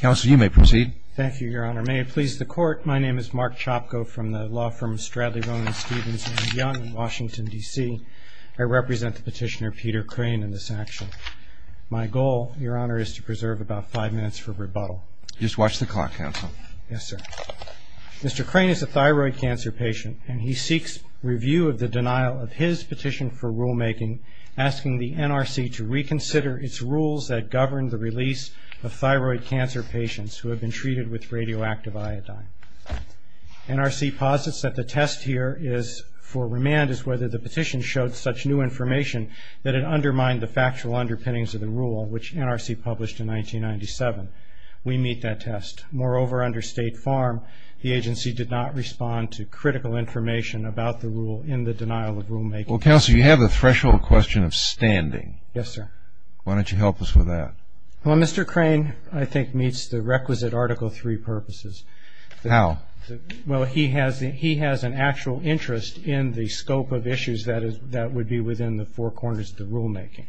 Mr. Crane is a thyroid cancer patient and he seeks review of the denial of his petition for rulemaking asking the NRC to reconsider its rules that govern the release of thyroid cancer patients in the United States. who have been treated with radioactive iodine. NRC posits that the test here for remand is whether the petition showed such new information that it undermined the factual underpinnings of the rule, which NRC published in 1997. We meet that test. Moreover, under State Farm, the agency did not respond to critical information about the rule in the denial of rulemaking. Well, counsel, you have the threshold question of standing. Yes, sir. Why don't you help us with that? Well, Mr. Crane, I think, meets the requisite Article III purposes. How? Well, he has an actual interest in the scope of issues that would be within the four corners of the rulemaking.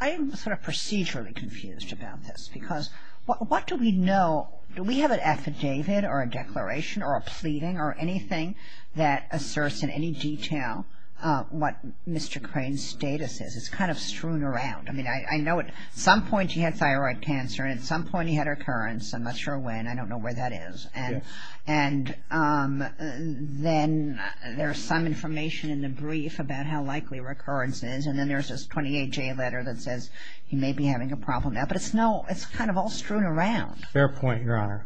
I'm sort of procedurally confused about this because what do we know? Do we have an affidavit or a declaration or a pleading or anything that asserts in any detail what Mr. Crane's status is? It's kind of strewn around. I mean, I know at some point he had thyroid cancer and at some point he had recurrence. I'm not sure when. I don't know where that is. And then there's some information in the brief about how likely recurrence is. And then there's this 28-J letter that says he may be having a problem. But it's kind of all strewn around. Fair point, Your Honor.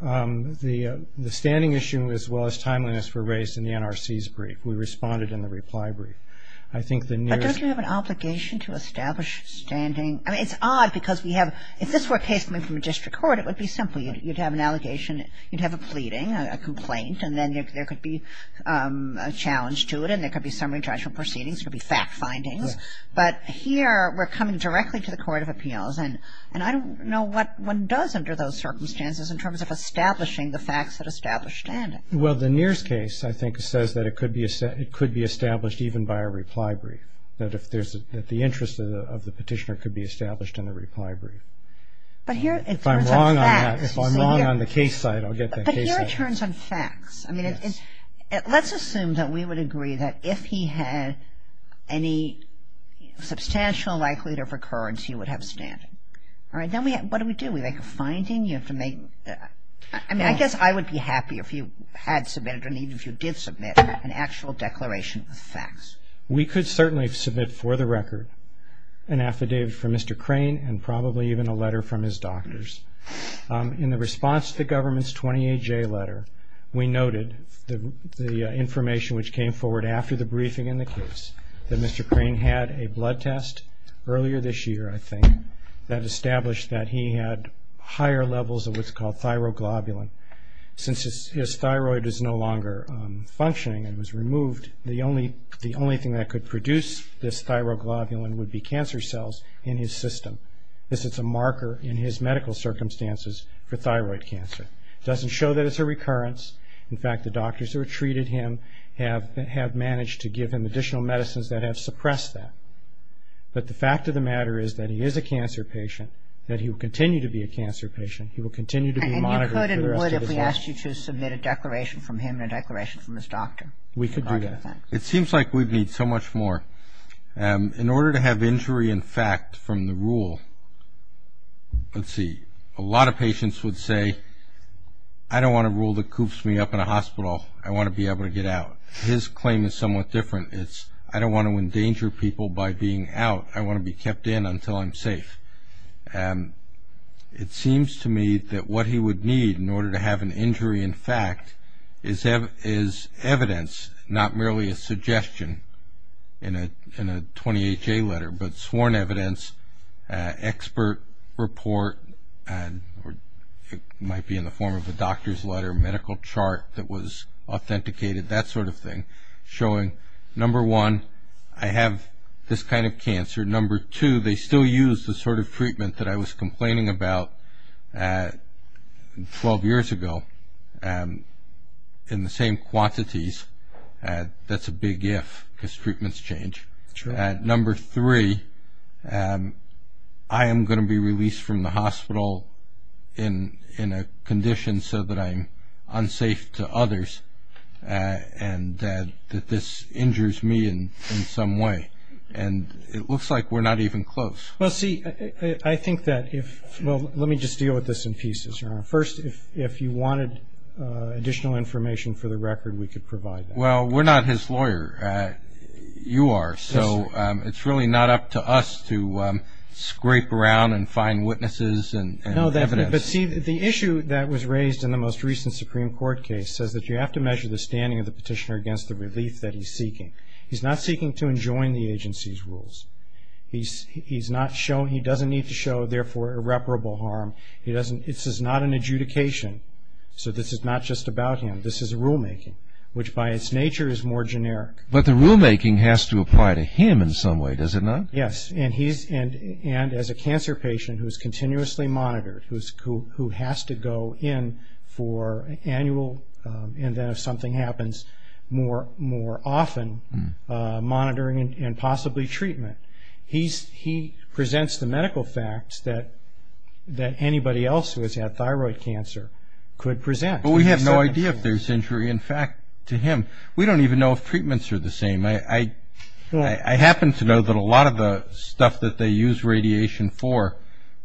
The standing issue as well as timeliness were raised in the NRC's brief. We responded in the reply brief. I think the nearest But don't you have an obligation to establish standing? I mean, it's odd because we have, if this were a case coming from a district court, it would be simple. You'd have an allegation, you'd have a plea. And then there could be a challenge to it. And there could be summary judgment proceedings. There could be fact findings. But here we're coming directly to the Court of Appeals. And I don't know what one does under those circumstances in terms of establishing the facts that establish standing. Well, the nearest case, I think, says that it could be established even by a reply brief. That the interest of the petitioner could be established in a reply brief. If I'm wrong on that, if I'm wrong on the case side, I'll get that case letter. I mean, let's assume that we would agree that if he had any substantial likelihood of recurrence, he would have standing. All right. Then what do we do? We make a finding? You have to make, I mean, I guess I would be happy if you had submitted or even if you did submit an actual declaration of facts. We could certainly submit for the record an affidavit from Mr. Crane and probably even a letter from his doctors. In the response to the government's 28-J letter, we noted the information which came forward after the briefing in the case that Mr. Crane had a blood test earlier this year, I think, that established that he had higher levels of what's called thyroglobulin. Since his thyroid is no longer functioning and was removed, the only thing that could produce this thyroglobulin would be cancer cells in his system. This is a marker in his medical circumstances for thyroid cancer. It doesn't show that it's a recurrence. In fact, the doctors who have treated him have managed to give him additional medicines that have suppressed that. But the fact of the matter is that he is a cancer patient, that he will continue to be a cancer patient. He will continue to be monitored for the rest of his life. What if we asked you to submit a declaration from him and a declaration from his doctor? We could do that. It seems like we'd need so much more. In order to have injury in fact from the rule, let's see, a lot of patients would say, I don't want a rule that coops me up in a hospital. I want to be able to get out. His claim is somewhat different. It's, I don't want to endanger people by being out. I want to be kept in until I'm safe. It seems to me that what he would need in order to have an injury in fact is evidence, not merely a suggestion in a 20HA letter, but sworn evidence, expert report, it might be in the form of a doctor's letter, medical chart that was authenticated. That sort of thing showing, number one, I have this kind of cancer. Number two, they still use the sort of treatment that I was complaining about 12 years ago in the same quantities. That's a big if because treatments change. Number three, I am going to be released from the hospital in a condition so that I'm unsafe to others and that this injures me in some way. And it looks like we're not even close. Well, see, I think that if, well, let me just deal with this in pieces. First, if you wanted additional information for the record, we could provide that. Well, we're not his lawyer. You are. So it's really not up to us to scrape around and find witnesses and evidence. No, but see, the issue that was raised in the most recent Supreme Court case says that you have to measure the standing of the petitioner against the relief that he's seeking. He's not seeking to enjoin the agency's rules. He doesn't need to show, therefore, irreparable harm. This is not an adjudication. So this is not just about him. This is a rulemaking, which by its nature is more generic. But the rulemaking has to apply to him in some way, does it not? Yes, and as a cancer patient who is continuously monitored, who has to go in for annual, and then if something happens, more often monitoring and possibly treatment. He presents the medical facts that anybody else who has had thyroid cancer could present. But we have no idea if there's injury. In fact, to him, we don't even know if treatments are the same. I happen to know that a lot of the stuff that they use radiation for,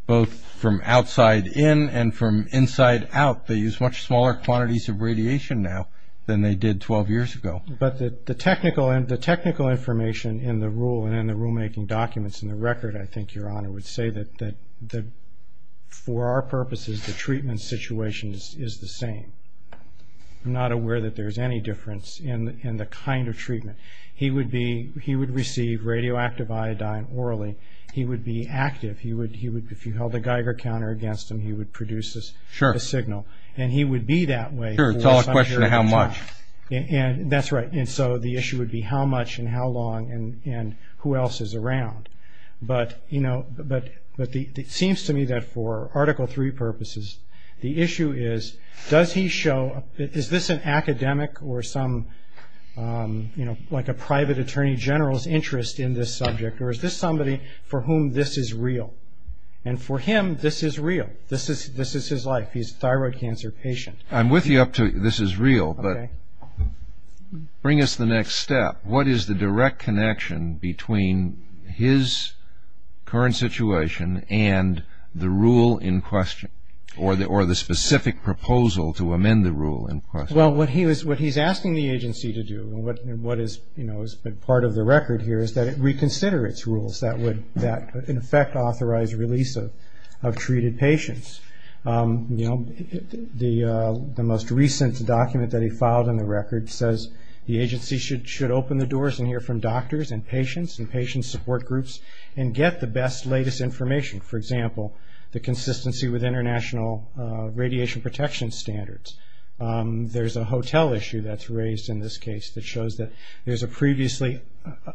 both from outside in and from inside out, they use much smaller quantities of radiation now than they did 12 years ago. But the technical information in the rule and in the rulemaking documents and the record, I think Your Honor would say that for our purposes, the treatment situation is the same. I'm not aware that there's any difference in the kind of treatment. He would receive radioactive iodine orally. He would be active. If you held a Geiger counter against him, he would produce a signal. Sure. And he would be that way for 100 years. Sure, it's all a question of how much. That's right. And so the issue would be how much and how long and who else is around. But it seems to me that for Article III purposes, the issue is, does he show, is this an academic or some, like a private attorney general's interest in this subject, or is this somebody for whom this is real? And for him, this is real. This is his life. He's a thyroid cancer patient. I'm with you up to this is real, but bring us the next step. What is the direct connection between his current situation and the rule in question or the specific proposal to amend the rule in question? Well, what he's asking the agency to do and what has been part of the record here is that it reconsider its rules that would in effect authorize release of treated patients. You know, the most recent document that he filed in the record says the agency should open the doors and hear from doctors and patients and patient support groups and get the best, latest information. For example, the consistency with international radiation protection standards. There's a hotel issue that's raised in this case that shows that there's a previously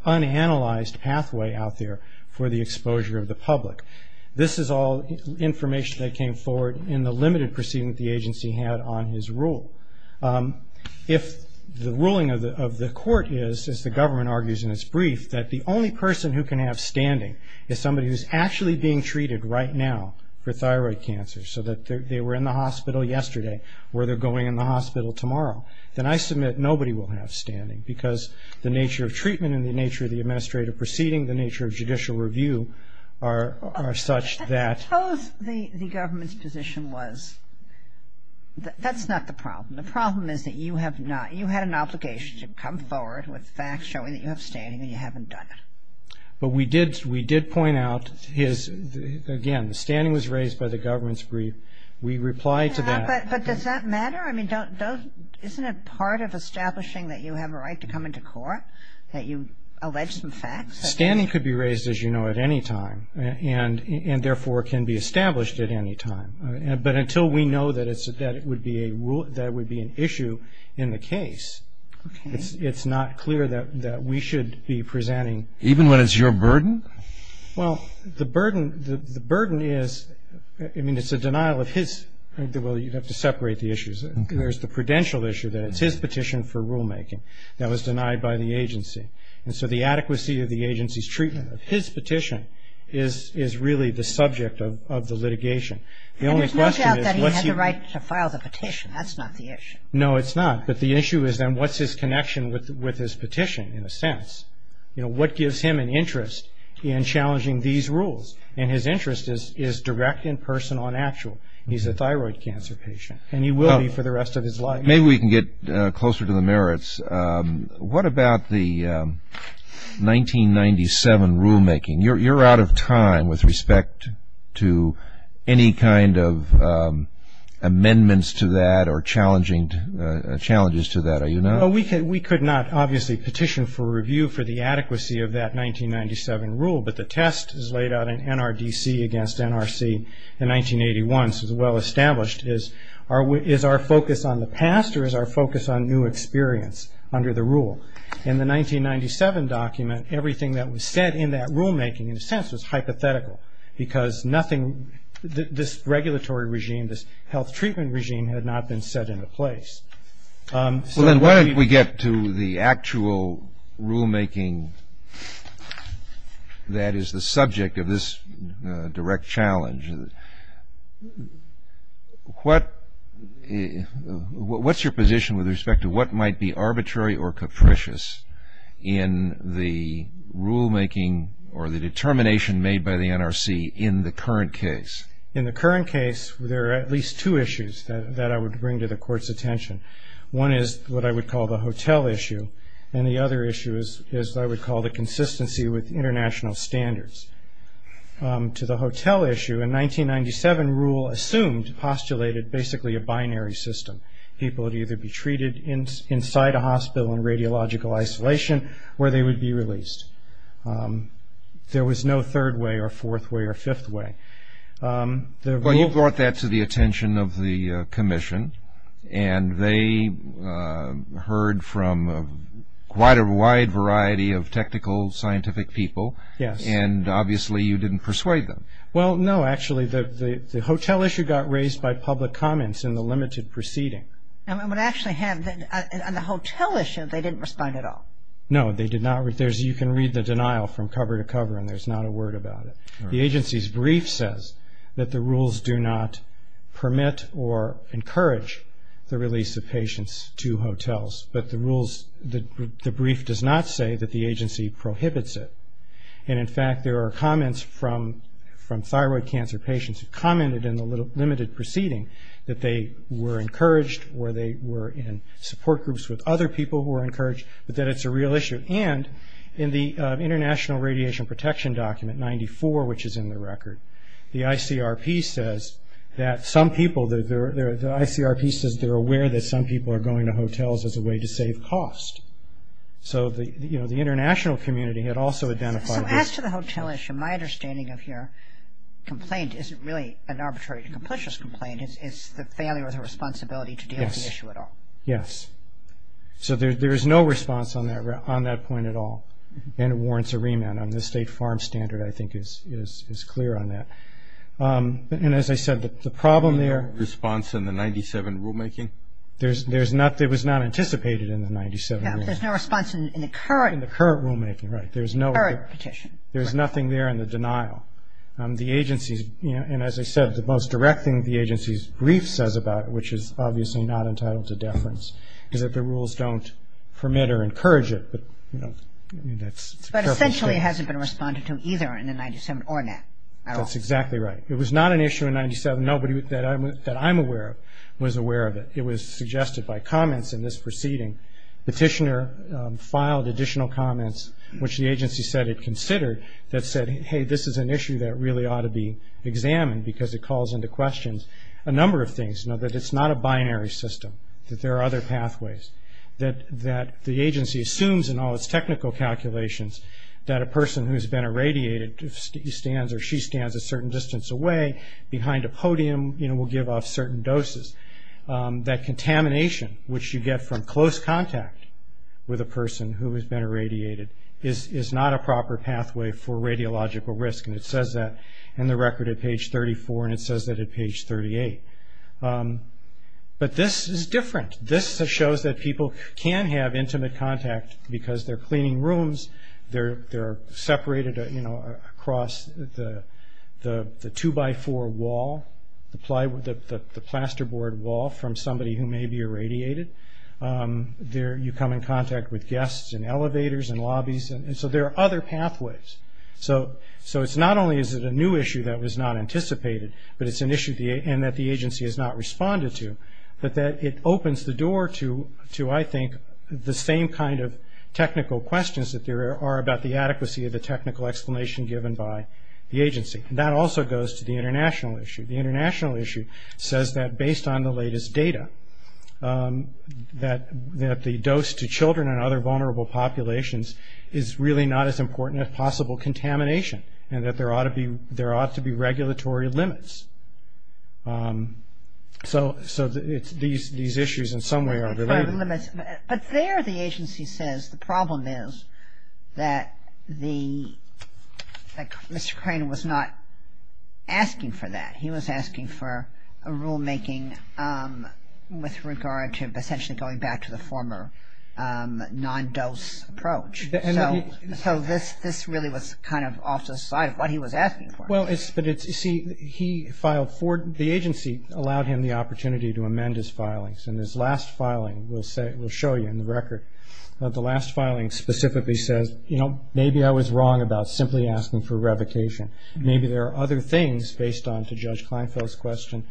unanalyzed pathway out there for the exposure of the public. This is all information that came forward in the limited proceeding that the agency had on his rule. If the ruling of the court is, as the government argues in its brief, that the only person who can have standing is somebody who's actually being treated right now for thyroid cancer, so that they were in the hospital yesterday or they're going in the hospital tomorrow, then I submit nobody will have standing, because the nature of treatment and the nature of the administrative proceeding, the nature of judicial review are such that. Suppose the government's position was, that's not the problem. The problem is that you have not, you had an obligation to come forward with facts showing that you have standing and you haven't done it. But we did point out his, again, the standing was raised by the government's brief. But does that matter? I mean, don't, isn't it part of establishing that you have a right to come into court, that you allege some facts? Standing could be raised, as you know, at any time, and therefore can be established at any time. But until we know that it's, that it would be a, that it would be an issue in the case, it's not clear that we should be presenting. Even when it's your burden? Well, the burden, the burden is, I mean, it's a denial of his, well, you'd have to separate the issues. There's the prudential issue that it's his petition for rulemaking that was denied by the agency. And so the adequacy of the agency's treatment of his petition is really the subject of the litigation. The only question is what's he. And it's no doubt that he had the right to file the petition. That's not the issue. No, it's not. But the issue is then what's his connection with his petition, in a sense? You know, what gives him an interest in challenging these rules? And his interest is direct in person on actual. He's a thyroid cancer patient, and he will be for the rest of his life. Maybe we can get closer to the merits. What about the 1997 rulemaking? You're out of time with respect to any kind of amendments to that or challenging, challenges to that, are you not? Well, we could not obviously petition for review for the adequacy of that 1997 rule, but the test is laid out in NRDC against NRC in 1981, so it's well established. Is our focus on the past or is our focus on new experience under the rule? In the 1997 document, everything that was said in that rulemaking, in a sense, was hypothetical because nothing, this regulatory regime, this health treatment regime, had not been set into place. Well, then why don't we get to the actual rulemaking that is the subject of this direct challenge. What's your position with respect to what might be arbitrary or capricious in the rulemaking or the determination made by the NRC in the current case? In the current case, there are at least two issues that I would bring to the court's attention. One is what I would call the hotel issue, and the other issue is what I would call the consistency with international standards. To the hotel issue, a 1997 rule assumed, postulated, basically a binary system. People would either be treated inside a hospital in radiological isolation where they would be released. There was no third way or fourth way or fifth way. Well, you brought that to the attention of the commission, and they heard from quite a wide variety of technical scientific people. Yes. And, obviously, you didn't persuade them. Well, no, actually, the hotel issue got raised by public comments in the limited proceeding. I would actually have, on the hotel issue, they didn't respond at all. No, they did not. You can read the denial from cover to cover, and there's not a word about it. The agency's brief says that the rules do not permit or encourage the release of patients to hotels, but the brief does not say that the agency prohibits it. And, in fact, there are comments from thyroid cancer patients who commented in the limited proceeding that they were encouraged or they were in support groups with other people who were encouraged, but that it's a real issue. And, in the International Radiation Protection Document 94, which is in the record, the ICRP says that some people, the ICRP says they're aware that some people are going to hotels as a way to save cost. So, you know, the international community had also identified this. So, as to the hotel issue, my understanding of your complaint isn't really an arbitrary, complicit complaint. It's the failure of the responsibility to deal with the issue at all. Yes. Yes. So, there is no response on that point at all, and it warrants a remand. The state farm standard, I think, is clear on that. And, as I said, the problem there. Response in the 97 rulemaking? There was not anticipated in the 97 rulemaking. Yeah, but there's no response in the current. In the current rulemaking, right. There's no. Current petition. There's nothing there in the denial. The agency's, you know, and as I said, the most direct thing the agency's brief says about it, which is obviously not entitled to deference, is that the rules don't permit or encourage it. But, you know, that's a careful statement. But, essentially, it hasn't been responded to either in the 97 or not at all. That's exactly right. It was not an issue in 97. Nobody that I'm aware of was aware of it. It was suggested by comments in this proceeding. Petitioner filed additional comments, which the agency said it considered, that said, hey, this is an issue that really ought to be examined because it calls into question a number of things. You know, that it's not a binary system, that there are other pathways, that the agency assumes in all its technical calculations that a person who's been irradiated stands or she stands a certain distance away behind a podium, you know, will give off certain doses. That contamination, which you get from close contact with a person who has been irradiated, is not a proper pathway for radiological risk. And it says that in the record at page 34, and it says that at page 38. But this is different. This shows that people can have intimate contact because they're cleaning rooms. They're separated, you know, across the 2-by-4 wall, the plasterboard wall, from somebody who may be irradiated. You come in contact with guests in elevators and lobbies. And so there are other pathways. So it's not only is it a new issue that was not anticipated, but it's an issue and that the agency has not responded to, but that it opens the door to, I think, the same kind of technical questions that there are about the adequacy of the technical explanation given by the agency. And that also goes to the international issue. The international issue says that based on the latest data that the dose to children and other vulnerable populations is really not as important as possible contamination and that there ought to be regulatory limits. So these issues in some way are related. But there the agency says the problem is that Mr. Crane was not asking for that. So this really was kind of off to the side of what he was asking for. Well, but, you see, he filed for it. The agency allowed him the opportunity to amend his filings. And this last filing we'll show you in the record. The last filing specifically says, you know, maybe I was wrong about simply asking for revocation. Maybe there are other things based on, to Judge Kleinfeld's question,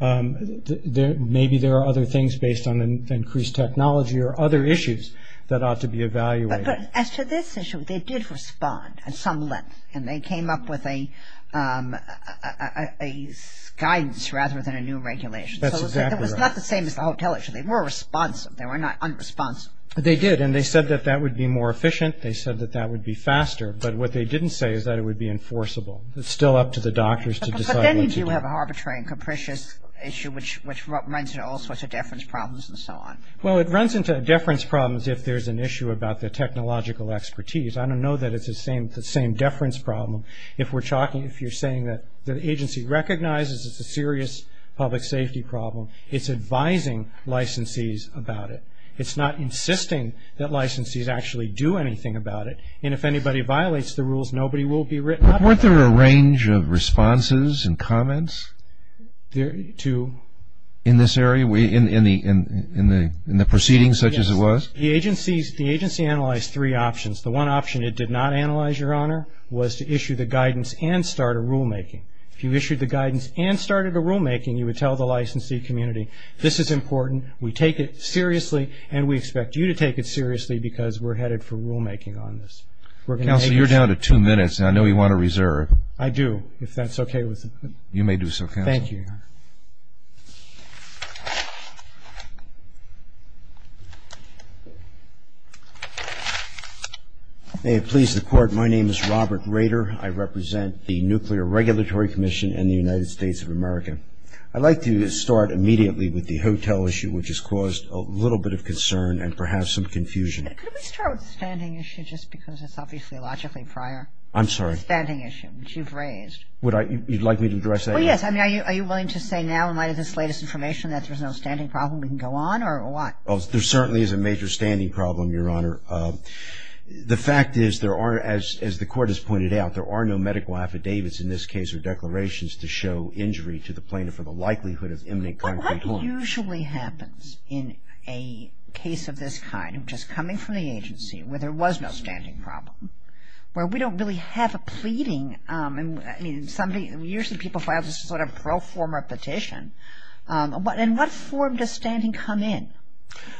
maybe there are other things based on increased technology or other issues that ought to be evaluated. But as to this issue, they did respond at some length. And they came up with a guidance rather than a new regulation. That's exactly right. So it was not the same as the hotel issue. They were responsive. They were not unresponsive. They did. And they said that that would be more efficient. They said that that would be faster. It's still up to the doctors to decide what to do. But then you do have an arbitrary and capricious issue, which runs into all sorts of deference problems and so on. Well, it runs into deference problems if there's an issue about the technological expertise. I don't know that it's the same deference problem. If you're saying that the agency recognizes it's a serious public safety problem, it's advising licensees about it. It's not insisting that licensees actually do anything about it. And if anybody violates the rules, nobody will be written up. Weren't there a range of responses and comments in this area, in the proceedings such as it was? Yes. The agency analyzed three options. The one option it did not analyze, Your Honor, was to issue the guidance and start a rulemaking. If you issued the guidance and started a rulemaking, you would tell the licensee community, this is important, we take it seriously, and we expect you to take it seriously because we're headed for rulemaking on this. Counselor, you're down to two minutes. I know you want to reserve. I do, if that's okay with you. You may do so, Counselor. Thank you, Your Honor. May it please the Court. My name is Robert Rader. I represent the Nuclear Regulatory Commission in the United States of America. I'd like to start immediately with the hotel issue, which has caused a little bit of concern and perhaps some confusion. Could we start with the standing issue just because it's obviously logically prior? I'm sorry? The standing issue, which you've raised. You'd like me to address that? Well, yes. Are you willing to say now in light of this latest information that there's no standing problem we can go on or what? There certainly is a major standing problem, Your Honor. The fact is there are, as the Court has pointed out, there are no medical affidavits in this case or declarations to show injury to the plaintiff for the likelihood of imminent concrete harm. What usually happens in a case of this kind, which is coming from the agency where there was no standing problem, where we don't really have a pleading, I mean usually people file this sort of pro forma petition. In what form does standing come in?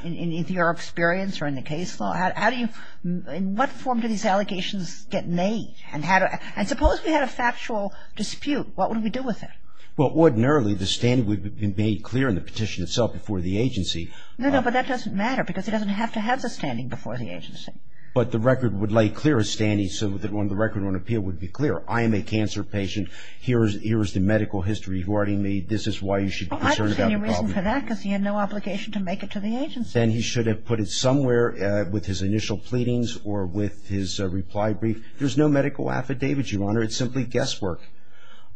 In your experience or in the case law? How do you, in what form do these allegations get made? And suppose we had a factual dispute. What would we do with it? Well, ordinarily the standing would be made clear in the petition itself before the agency. No, no, but that doesn't matter because it doesn't have to have the standing before the agency. But the record would lay clear a standing so that when the record on appeal would be clear. I am a cancer patient. Here is the medical history regarding me. This is why you should be concerned about the problem. Well, I don't see any reason for that because he had no obligation to make it to the agency. Then he should have put it somewhere with his initial pleadings or with his reply brief. There's no medical affidavit, Your Honor. It's simply guesswork.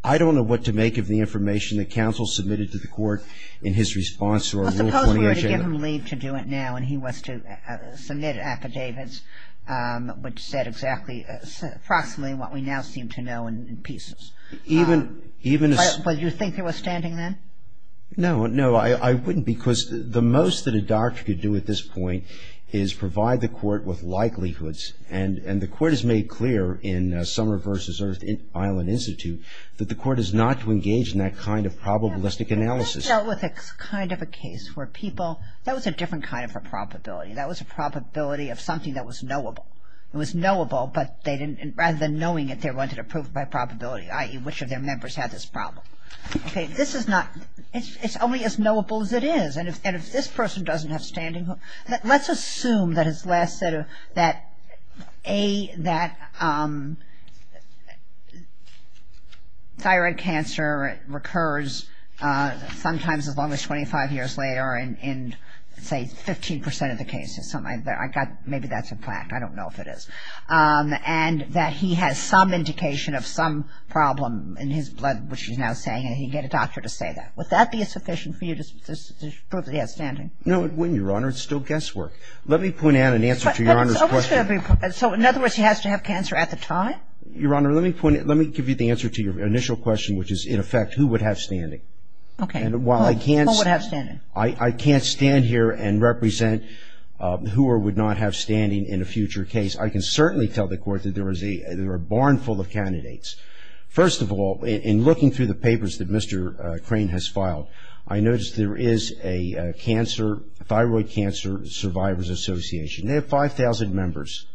I don't know what to make of the information that counsel submitted to the Court in his response to our little 20-inch letter. We were to give him leave to do it now and he was to submit affidavits which said approximately what we now seem to know in pieces. But you think he was standing then? No, no, I wouldn't because the most that a doctor could do at this point is provide the Court with likelihoods. And the Court has made clear in Summer v. Earth Island Institute that the Court is not to engage in that kind of probabilistic analysis. We dealt with a kind of a case where people – that was a different kind of a probability. That was a probability of something that was knowable. It was knowable but they didn't – rather than knowing it, they wanted to prove by probability, i.e., which of their members had this problem. Okay, this is not – it's only as knowable as it is. And if this person doesn't have standing – let's assume that his last – that thyroid cancer recurs sometimes as long as 25 years later in, say, 15% of the cases. Maybe that's a fact. I don't know if it is. And that he has some indication of some problem in his blood, which he's now saying, and he can get a doctor to say that. Would that be sufficient for you to prove that he has standing? No, it wouldn't, Your Honor. It's still guesswork. Let me point out an answer to Your Honor's question. So in other words, he has to have cancer at the time? Your Honor, let me point – let me give you the answer to your initial question, which is, in effect, who would have standing? Okay. Who would have standing? I can't stand here and represent who would not have standing in a future case. I can certainly tell the Court that there is a – there are a barn full of candidates. First of all, in looking through the papers that Mr. Crane has filed, I noticed there is a cancer – thyroid cancer survivors association. They have 5,000 members.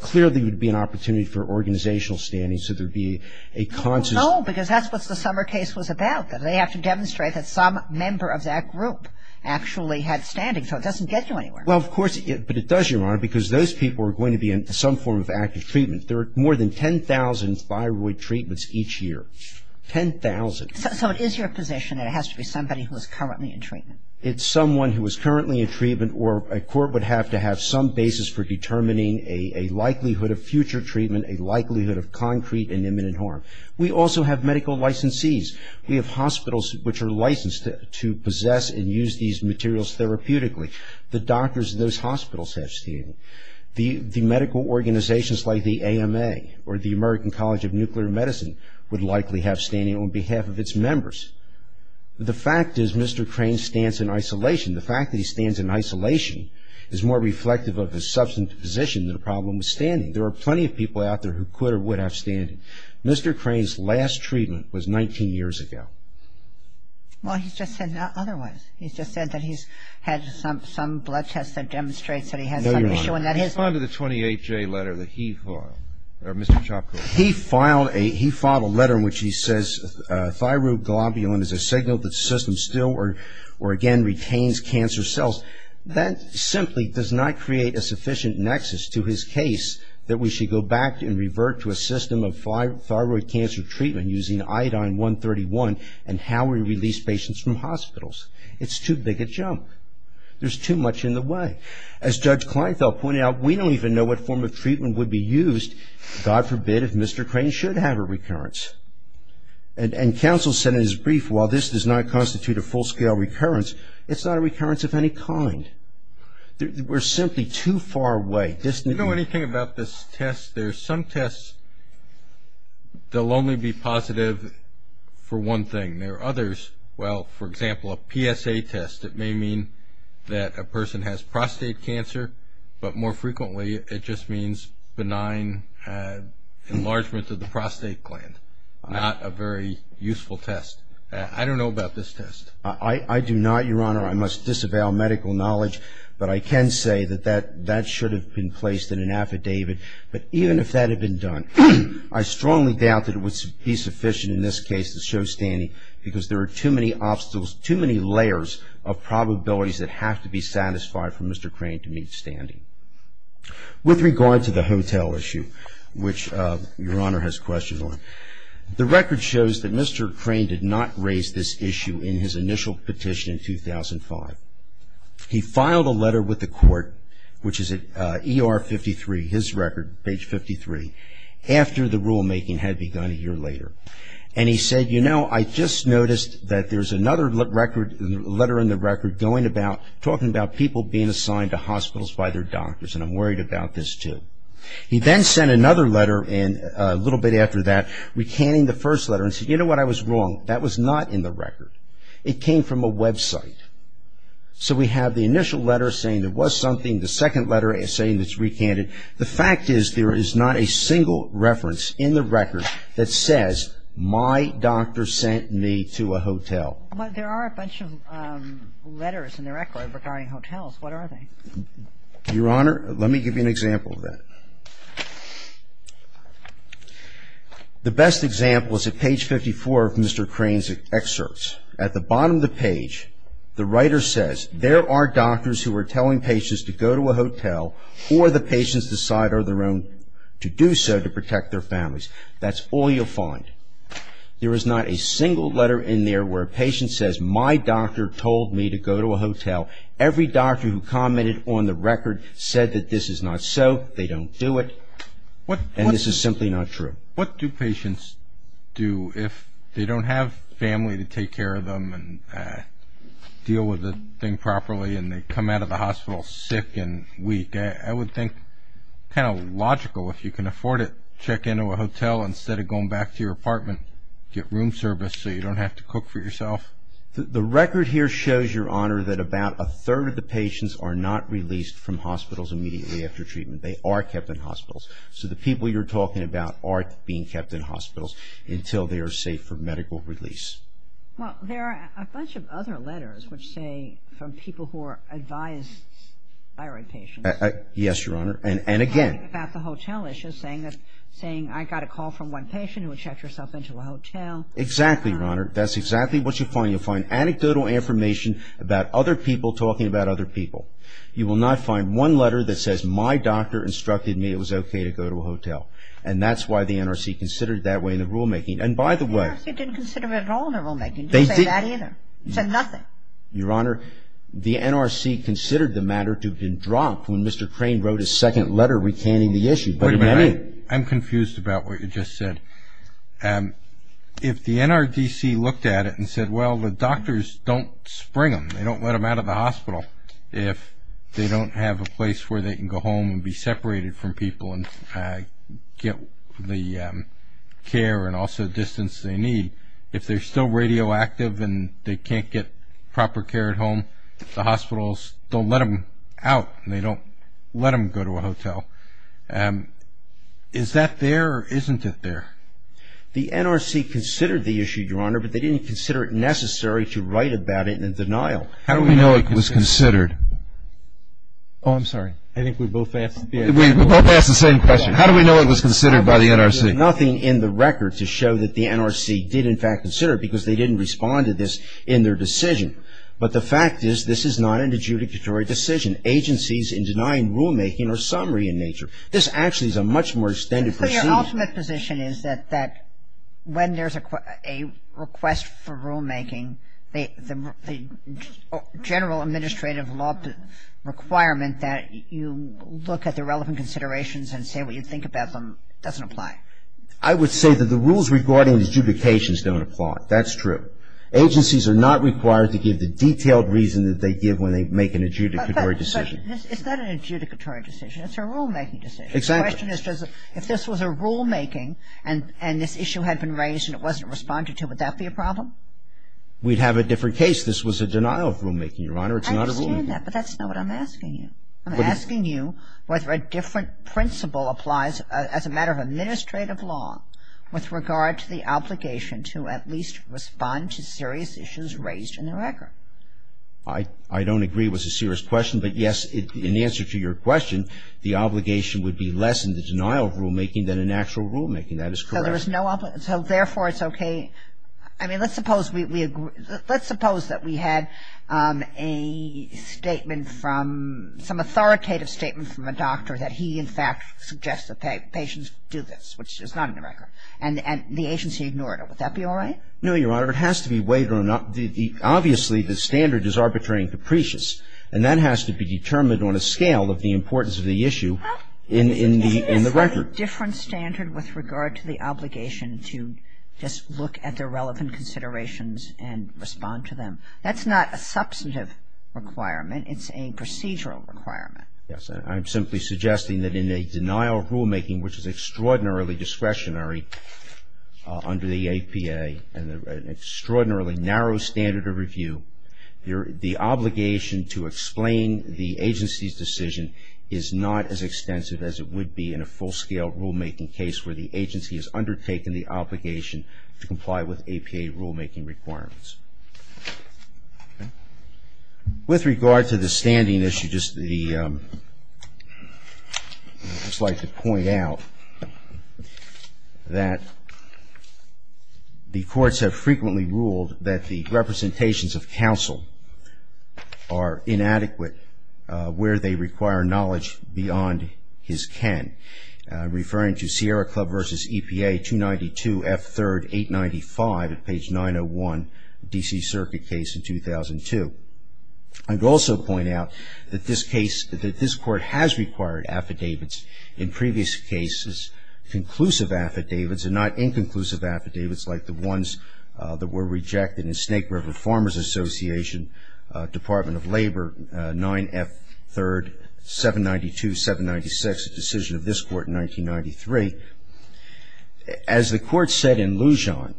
Clearly, there would be an opportunity for organizational standing, so there would be a conscious – No, because that's what the Summer case was about, that they have to demonstrate that some member of that group actually had standing, so it doesn't get you anywhere. Well, of course – but it does, Your Honor, because those people are going to be in some form of active treatment. There are more than 10,000 thyroid treatments each year, 10,000. So it is your position that it has to be somebody who is currently in treatment? It's someone who is currently in treatment or a court would have to have some basis for determining a likelihood of future treatment, a likelihood of concrete and imminent harm. We also have medical licensees. We have hospitals which are licensed to possess and use these materials therapeutically. The doctors in those hospitals have standing. The medical organizations like the AMA or the American College of Nuclear Medicine would likely have standing on behalf of its members. The fact is Mr. Crane stands in isolation. The fact that he stands in isolation is more reflective of his substantive position than a problem with standing. There are plenty of people out there who could or would have standing. Mr. Crane's last treatment was 19 years ago. Well, he's just said otherwise. He's just said that he's had some blood tests that demonstrate that he has some issue. No, Your Honor. Respond to the 28J letter that he filed, or Mr. Chopra. He filed a letter in which he says thyroid globulin is a signal that the system still or again retains cancer cells. That simply does not create a sufficient nexus to his case that we should go back and revert to a system of thyroid cancer treatment using iodine-131 and how we release patients from hospitals. It's too big a jump. There's too much in the way. As Judge Kleinfeld pointed out, we don't even know what form of treatment would be used, God forbid, if Mr. Crane should have a recurrence. And counsel said in his brief, while this does not constitute a full-scale recurrence, it's not a recurrence of any kind. We're simply too far away. Do you know anything about this test? There are some tests that will only be positive for one thing. There are others, well, for example, a PSA test that may mean that a person has prostate cancer, but more frequently it just means benign enlargement of the prostate gland, not a very useful test. I don't know about this test. I do not, Your Honor. I must disavow medical knowledge, but I can say that that should have been placed in an affidavit. But even if that had been done, I strongly doubt that it would be sufficient in this case to show standing because there are too many layers of probabilities that have to be satisfied for Mr. Crane to meet standing. With regard to the hotel issue, which Your Honor has questions on, the record shows that Mr. Crane did not raise this issue in his initial petition in 2005. He filed a letter with the court, which is at ER 53, his record, page 53, after the rulemaking had begun a year later. And he said, You know, I just noticed that there's another letter in the record talking about people being assigned to hospitals by their doctors, and I'm worried about this too. He then sent another letter a little bit after that recanting the first letter and said, You know what, I was wrong. That was not in the record. It came from a website. So we have the initial letter saying there was something. The second letter is saying it's recanted. The fact is there is not a single reference in the record that says, My doctor sent me to a hotel. But there are a bunch of letters in the record regarding hotels. What are they? Your Honor, let me give you an example of that. The best example is at page 54 of Mr. Crane's excerpts. At the bottom of the page, the writer says, There are doctors who are telling patients to go to a hotel, or the patients decide on their own to do so to protect their families. That's all you'll find. There is not a single letter in there where a patient says, My doctor told me to go to a hotel. Every doctor who commented on the record said that this is not so. They don't do it. And this is simply not true. What do patients do if they don't have family to take care of them and deal with the thing properly and they come out of the hospital sick and weak? I would think kind of logical if you can afford it, check into a hotel instead of going back to your apartment, get room service so you don't have to cook for yourself. The record here shows, Your Honor, that about a third of the patients are not released from hospitals immediately after treatment. They are kept in hospitals. So the people you're talking about are being kept in hospitals until they are safe for medical release. Well, there are a bunch of other letters which say, from people who are advised thyroid patients. Yes, Your Honor. And again. About the hotel issue, saying, I got a call from one patient who checked herself into a hotel. Exactly, Your Honor. That's exactly what you'll find. You'll find anecdotal information about other people talking about other people. You will not find one letter that says, my doctor instructed me it was okay to go to a hotel. And that's why the NRC considered it that way in the rulemaking. And by the way. The NRC didn't consider it at all in the rulemaking. They didn't. They didn't say that either. They said nothing. Your Honor, the NRC considered the matter to have been dropped when Mr. Crane wrote his second letter recanting the issue. Wait a minute. I'm confused about what you just said. If the NRDC looked at it and said, well, the doctors don't spring them. They don't let them out of the hospital. If they don't have a place where they can go home and be separated from people and get the care and also distance they need, if they're still radioactive and they can't get proper care at home, the hospitals don't let them out. They don't let them go to a hotel. Is that there or isn't it there? The NRC considered the issue, Your Honor, but they didn't consider it necessary to write about it in denial. How do we know it was considered? Oh, I'm sorry. I think we both asked the same question. How do we know it was considered by the NRC? There's nothing in the record to show that the NRC did, in fact, consider it because they didn't respond to this in their decision. But the fact is this is not an adjudicatory decision. Agencies in denying rulemaking are summary in nature. This actually is a much more extended procedure. So your ultimate position is that when there's a request for rulemaking, the general administrative law requirement that you look at the relevant considerations and say what you think about them doesn't apply. I would say that the rules regarding adjudications don't apply. That's true. Agencies are not required to give the detailed reason that they give when they make an adjudicatory decision. It's not an adjudicatory decision. It's a rulemaking decision. Exactly. The question is if this was a rulemaking and this issue had been raised and it wasn't responded to, would that be a problem? We'd have a different case. This was a denial of rulemaking, Your Honor. It's not a rulemaking. I understand that, but that's not what I'm asking you. I'm asking you whether a different principle applies as a matter of administrative law with regard to the obligation to at least respond to serious issues raised in the record. I don't agree it was a serious question. But, yes, in answer to your question, the obligation would be less in the denial of rulemaking than in actual rulemaking. That is correct. So there was no obligation. So, therefore, it's okay. I mean, let's suppose we agree. Let's suppose that we had a statement from, some authoritative statement from a doctor that he, in fact, suggests that patients do this, which is not in the record. And the agency ignored it. Would that be all right? No, Your Honor. It has to be weighed on up. Obviously, the standard is arbitrary and capricious. And that has to be determined on a scale of the importance of the issue in the record. Is there a different standard with regard to the obligation to just look at the relevant considerations and respond to them? That's not a substantive requirement. It's a procedural requirement. Yes. I'm simply suggesting that in a denial of rulemaking, which is extraordinarily discretionary under the APA and an extraordinarily narrow standard of review, the obligation to explain the agency's decision is not as a procedural rulemaking case where the agency has undertaken the obligation to comply with APA rulemaking requirements. With regard to the standing issue, just the ‑‑ I'd just like to point out that the courts have frequently ruled that the representations of counsel are inadequate where they require knowledge beyond his ken, referring to Sierra Club v. EPA 292 F. 3rd 895 at page 901, D.C. Circuit case in 2002. I'd also point out that this case, that this court has required affidavits in previous cases, conclusive affidavits and not inconclusive affidavits like the ones that were rejected in Snake River in 1992, 796, a decision of this court in 1993. As the court said in Lujan,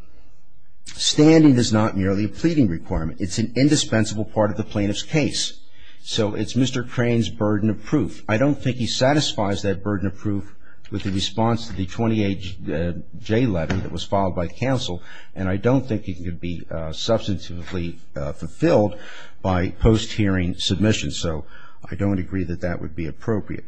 standing is not merely a pleading requirement. It's an indispensable part of the plaintiff's case. So it's Mr. Crane's burden of proof. I don't think he satisfies that burden of proof with the response to the 28J letter that was filed by counsel, and I don't think it could be substantively fulfilled by post‑hearing submission. So I don't agree that that would be appropriate.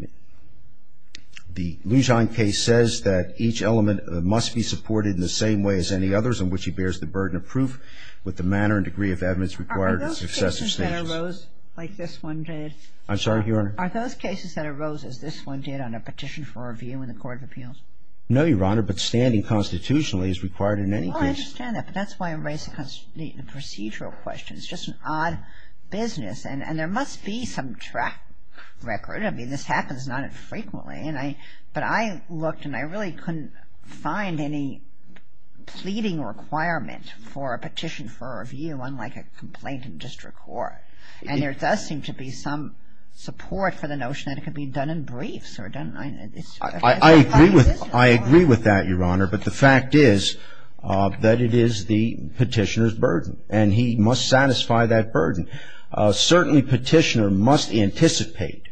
The Lujan case says that each element must be supported in the same way as any others, in which he bears the burden of proof with the manner and degree of evidence required in successive stages. Are those cases that arose like this one did? I'm sorry, Your Honor? Are those cases that arose as this one did on a petition for review in the Court of Appeals? No, Your Honor, but standing constitutionally is required in any case. Oh, I understand that, but that's why I'm raising the procedural question. It's just an odd business, and there must be some track record. I mean, this happens not infrequently, but I looked and I really couldn't find any pleading requirement for a petition for review unlike a complaint in district court. And there does seem to be some support for the notion that it could be done in briefs. I agree with that, Your Honor, but the fact is that it is the petitioner's burden, and he must satisfy that burden. Certainly, petitioner must anticipate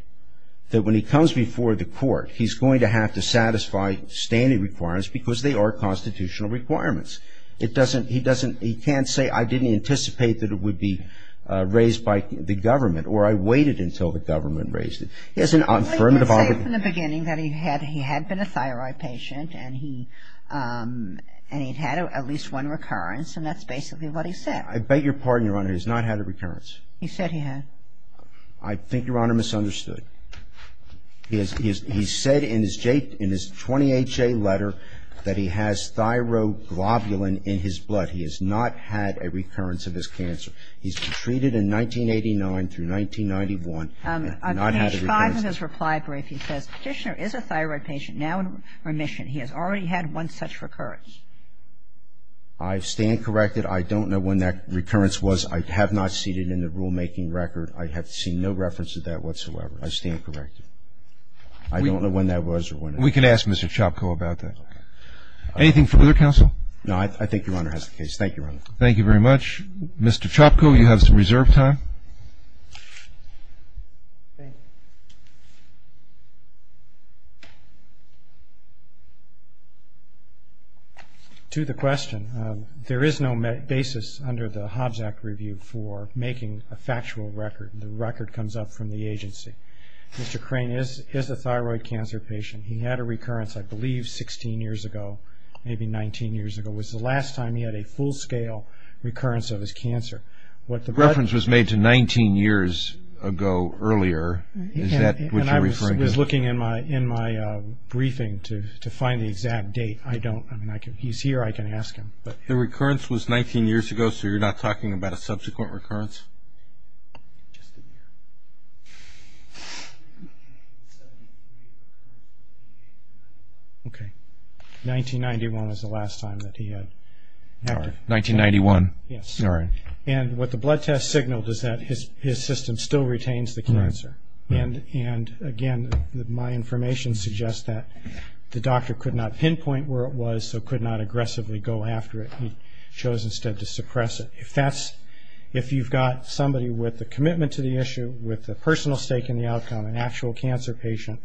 that when he comes before the court, he's going to have to satisfy standing requirements because they are constitutional requirements. It doesn't he doesn't he can't say I didn't anticipate that it would be raised by the government or I waited until the government raised it. He has an affirmative obligation. Well, he did say from the beginning that he had he had been a thyroid patient and he had at least one recurrence, and that's basically what he said. I beg your pardon, Your Honor. He's not had a recurrence. He said he had. I think Your Honor misunderstood. He said in his 20HA letter that he has thyroglobulin in his blood. He has not had a recurrence of his cancer. He's been treated in 1989 through 1991 and not had a recurrence. On page 5 of his reply brief, he says, Petitioner is a thyroid patient now in remission. He has already had one such recurrence. I stand corrected. I don't know when that recurrence was. I have not seen it in the rulemaking record. I have seen no reference to that whatsoever. I stand corrected. I don't know when that was or when it was. We can ask Mr. Chopko about that. Anything from other counsel? No, I think Your Honor has the case. Thank you, Your Honor. Thank you very much. Mr. Chopko, you have some reserve time. Thank you. To the question, there is no basis under the Hobbs Act review for making a factual record. The record comes up from the agency. Mr. Crane is a thyroid cancer patient. He had a recurrence, I believe, 16 years ago, maybe 19 years ago. It was the last time he had a full-scale recurrence of his cancer. The reference was made to 19 years ago earlier. Is that what you're referring to? I was looking in my briefing to find the exact date. I don't. I mean, he's here. I can ask him. The recurrence was 19 years ago, so you're not talking about a subsequent recurrence? Just a year. Okay. 1991 was the last time that he had. 1991. Yes. And what the blood test signaled is that his system still retains the cancer. And, again, my information suggests that the doctor could not pinpoint where it was so could not aggressively go after it. He chose instead to suppress it. If you've got somebody with a commitment to the issue, with a personal stake in the outcome, an actual cancer patient,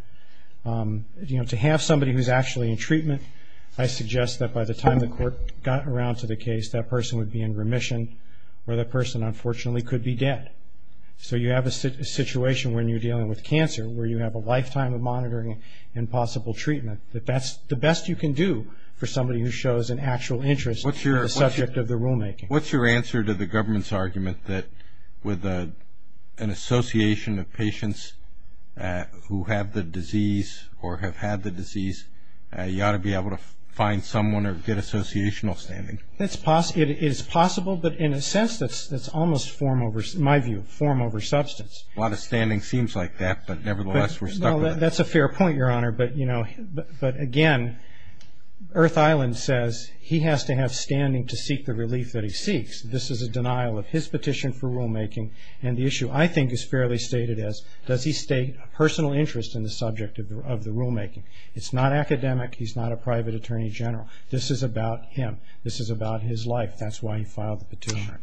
to have somebody who's actually in treatment, I suggest that by the time the court got around to the case, that person would be in remission or that person, unfortunately, could be dead. So you have a situation when you're dealing with cancer where you have a lifetime of monitoring and possible treatment. That's the best you can do for somebody who shows an actual interest in the subject of the rulemaking. What's your answer to the government's argument that with an association of patients who have the disease you ought to be able to find someone or get associational standing? It is possible, but in a sense that's almost form over, in my view, form over substance. A lot of standing seems like that, but, nevertheless, we're stuck with it. That's a fair point, Your Honor, but, again, Earth Island says he has to have standing to seek the relief that he seeks. This is a denial of his petition for rulemaking, and the issue I think is fairly stated as does he state a personal interest in the subject of the rulemaking. It's not academic. He's not a private attorney general. This is about him. This is about his life. That's why he filed the petition.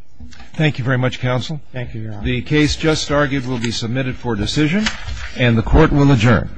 Thank you very much, Counsel. Thank you, Your Honor. The case just argued will be submitted for decision, and the Court will adjourn.